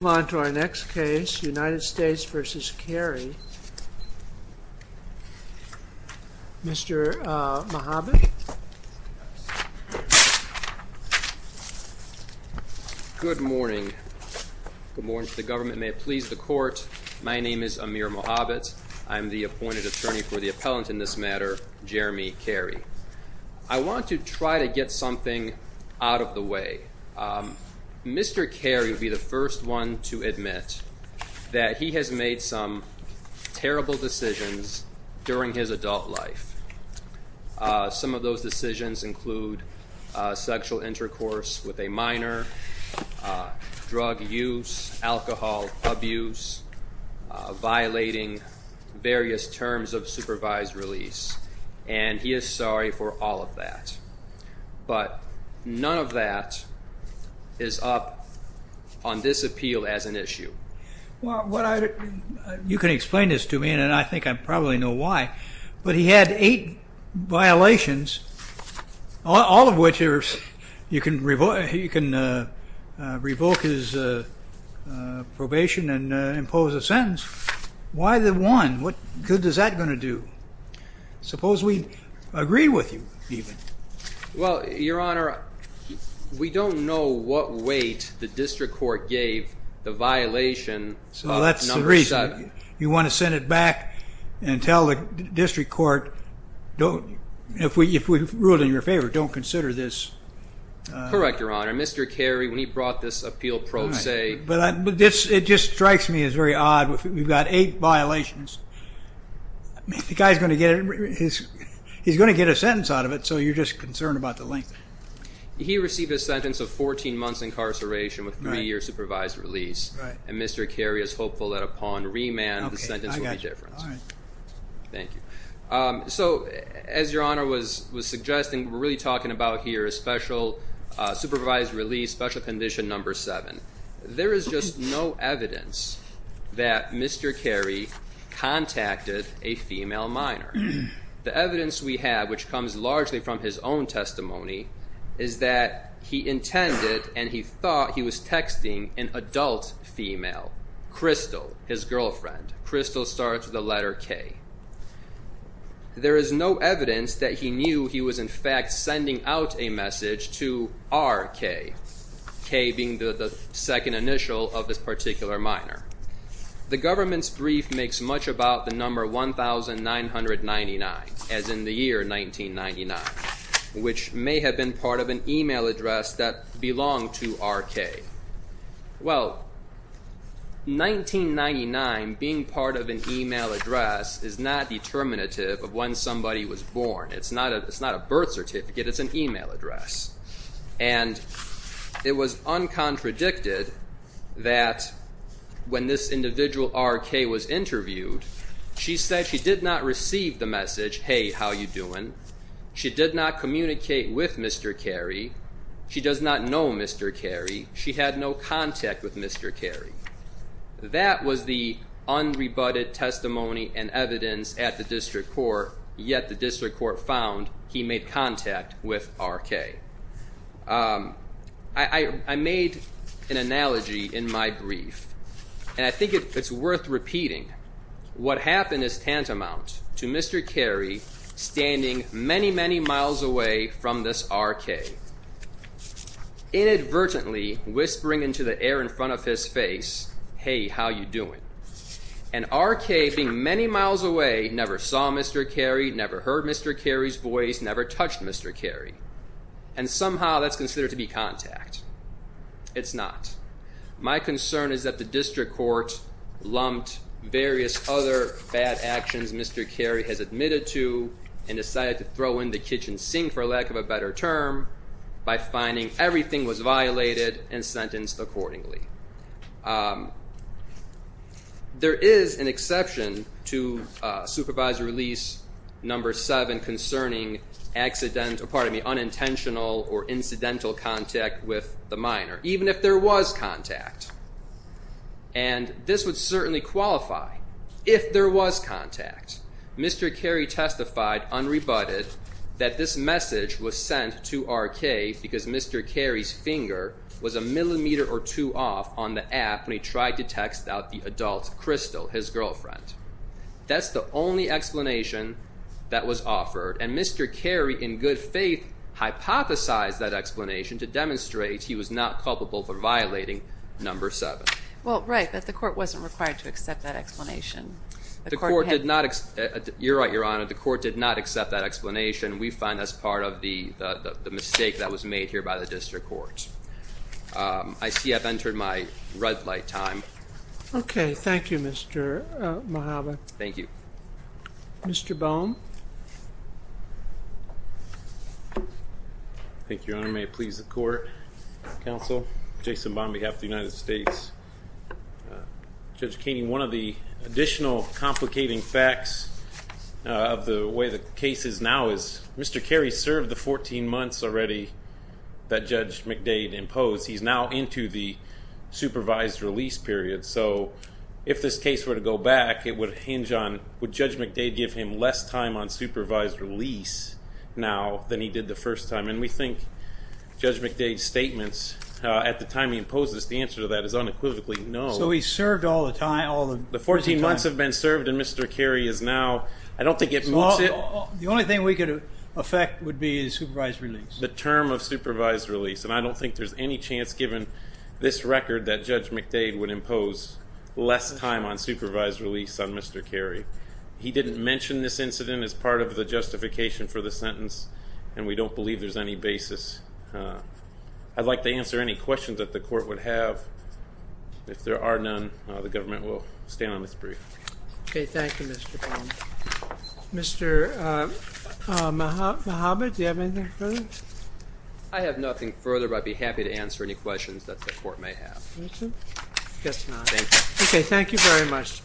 Let's move on to our next case, United States v. Cary. Mr. Mohabit. Good morning. Good morning to the government, and may it please the court. My name is Amir Mohabit. I'm the appointed attorney for the appellant in this matter, Jeremy Cary. I want to try to get something out of the way. Mr. Cary will be the first one to admit that he has made some terrible decisions during his adult life. Some of those decisions include sexual intercourse with a minor, drug use, alcohol abuse, violating various terms of supervised release, and he is sorry for all of that. But none of that is up on this appeal as an issue. You can explain this to me, and I think I probably know why. But he had eight violations, all of which you can revoke his probation and impose a sentence. Why the one? What good is that going to do? Suppose we agree with you even. Well, Your Honor, we don't know what weight the district court gave the violation number seven. Well, that's the reason. You want to send it back and tell the district court, if we rule it in your favor, don't consider this. Correct, Your Honor. Mr. Cary, when he brought this appeal pro se. But it just strikes me as very odd. We've got eight violations. The guy is going to get a sentence out of it, so you're just concerned about the length. He received a sentence of 14 months incarceration with three years supervised release. And Mr. Cary is hopeful that upon remand the sentence will be different. All right. Thank you. So as Your Honor was suggesting, we're really talking about here a special supervised release, special condition number seven. There is just no evidence that Mr. Cary contacted a female minor. The evidence we have, which comes largely from his own testimony, is that he intended and he thought he was texting an adult female, Crystal, his girlfriend. Crystal starts with the letter K. There is no evidence that he knew he was in fact sending out a message to RK, K being the second initial of this particular minor. The government's brief makes much about the number 1999, as in the year 1999, which may have been part of an email address that belonged to RK. Well, 1999 being part of an email address is not determinative of when somebody was born. It's not a birth certificate. It's an email address. And it was uncontradicted that when this individual RK was interviewed, she said she did not receive the message, hey, how you doing? She did not communicate with Mr. Cary. She does not know Mr. Cary. She had no contact with Mr. Cary. That was the unrebutted testimony and evidence at the district court, yet the district court found he made contact with RK. I made an analogy in my brief, and I think it's worth repeating. What happened is tantamount to Mr. Cary standing many, many miles away from this RK, inadvertently whispering into the air in front of his face, hey, how you doing? And RK, being many miles away, never saw Mr. Cary, never heard Mr. Cary's voice, never touched Mr. Cary. And somehow that's considered to be contact. It's not. My concern is that the district court lumped various other bad actions Mr. Cary has admitted to and decided to throw in the kitchen sink, for lack of a better term, by finding everything was violated and sentenced accordingly. There is an exception to Supervisor Release No. 7 concerning unintentional or incidental contact with the minor, even if there was contact. And this would certainly qualify if there was contact. Mr. Cary testified, unrebutted, that this message was sent to RK because Mr. Cary's finger was a millimeter or two off on the app when he tried to text out the adult Crystal, his girlfriend. That's the only explanation that was offered. And Mr. Cary, in good faith, hypothesized that explanation to demonstrate he was not culpable for violating No. 7. Well, right, but the court wasn't required to accept that explanation. You're right, Your Honor. The court did not accept that explanation. We find that's part of the mistake that was made here by the district court. I see I've entered my red light time. Okay. Thank you, Mr. Mojave. Thank you. Mr. Boehm. Thank you, Your Honor. May it please the court, counsel, Jason Boehm on behalf of the United States. Judge Keating, one of the additional complicating facts of the way the case is now is Mr. Cary served the 14 months already that Judge McDade imposed. He's now into the supervised release period. So if this case were to go back, it would hinge on would Judge McDade give him less time on supervised release now than he did the first time? And we think Judge McDade's statements at the time he imposed this, the answer to that is unequivocally no. So he served all the time. The 14 months have been served and Mr. Cary is now, I don't think it makes it. The only thing we could affect would be the supervised release. The term of supervised release. And I don't think there's any chance given this record that Judge McDade would impose less time on supervised release on Mr. Cary. He didn't mention this incident as part of the justification for the sentence, and we don't believe there's any basis. I'd like to answer any questions that the court would have. If there are none, the government will stand on this brief. Okay, thank you, Mr. Boehm. Mr. Mohamed, do you have anything further? I have nothing further, but I'd be happy to answer any questions that the court may have. That's it? I guess not. Thank you. Okay, thank you very much.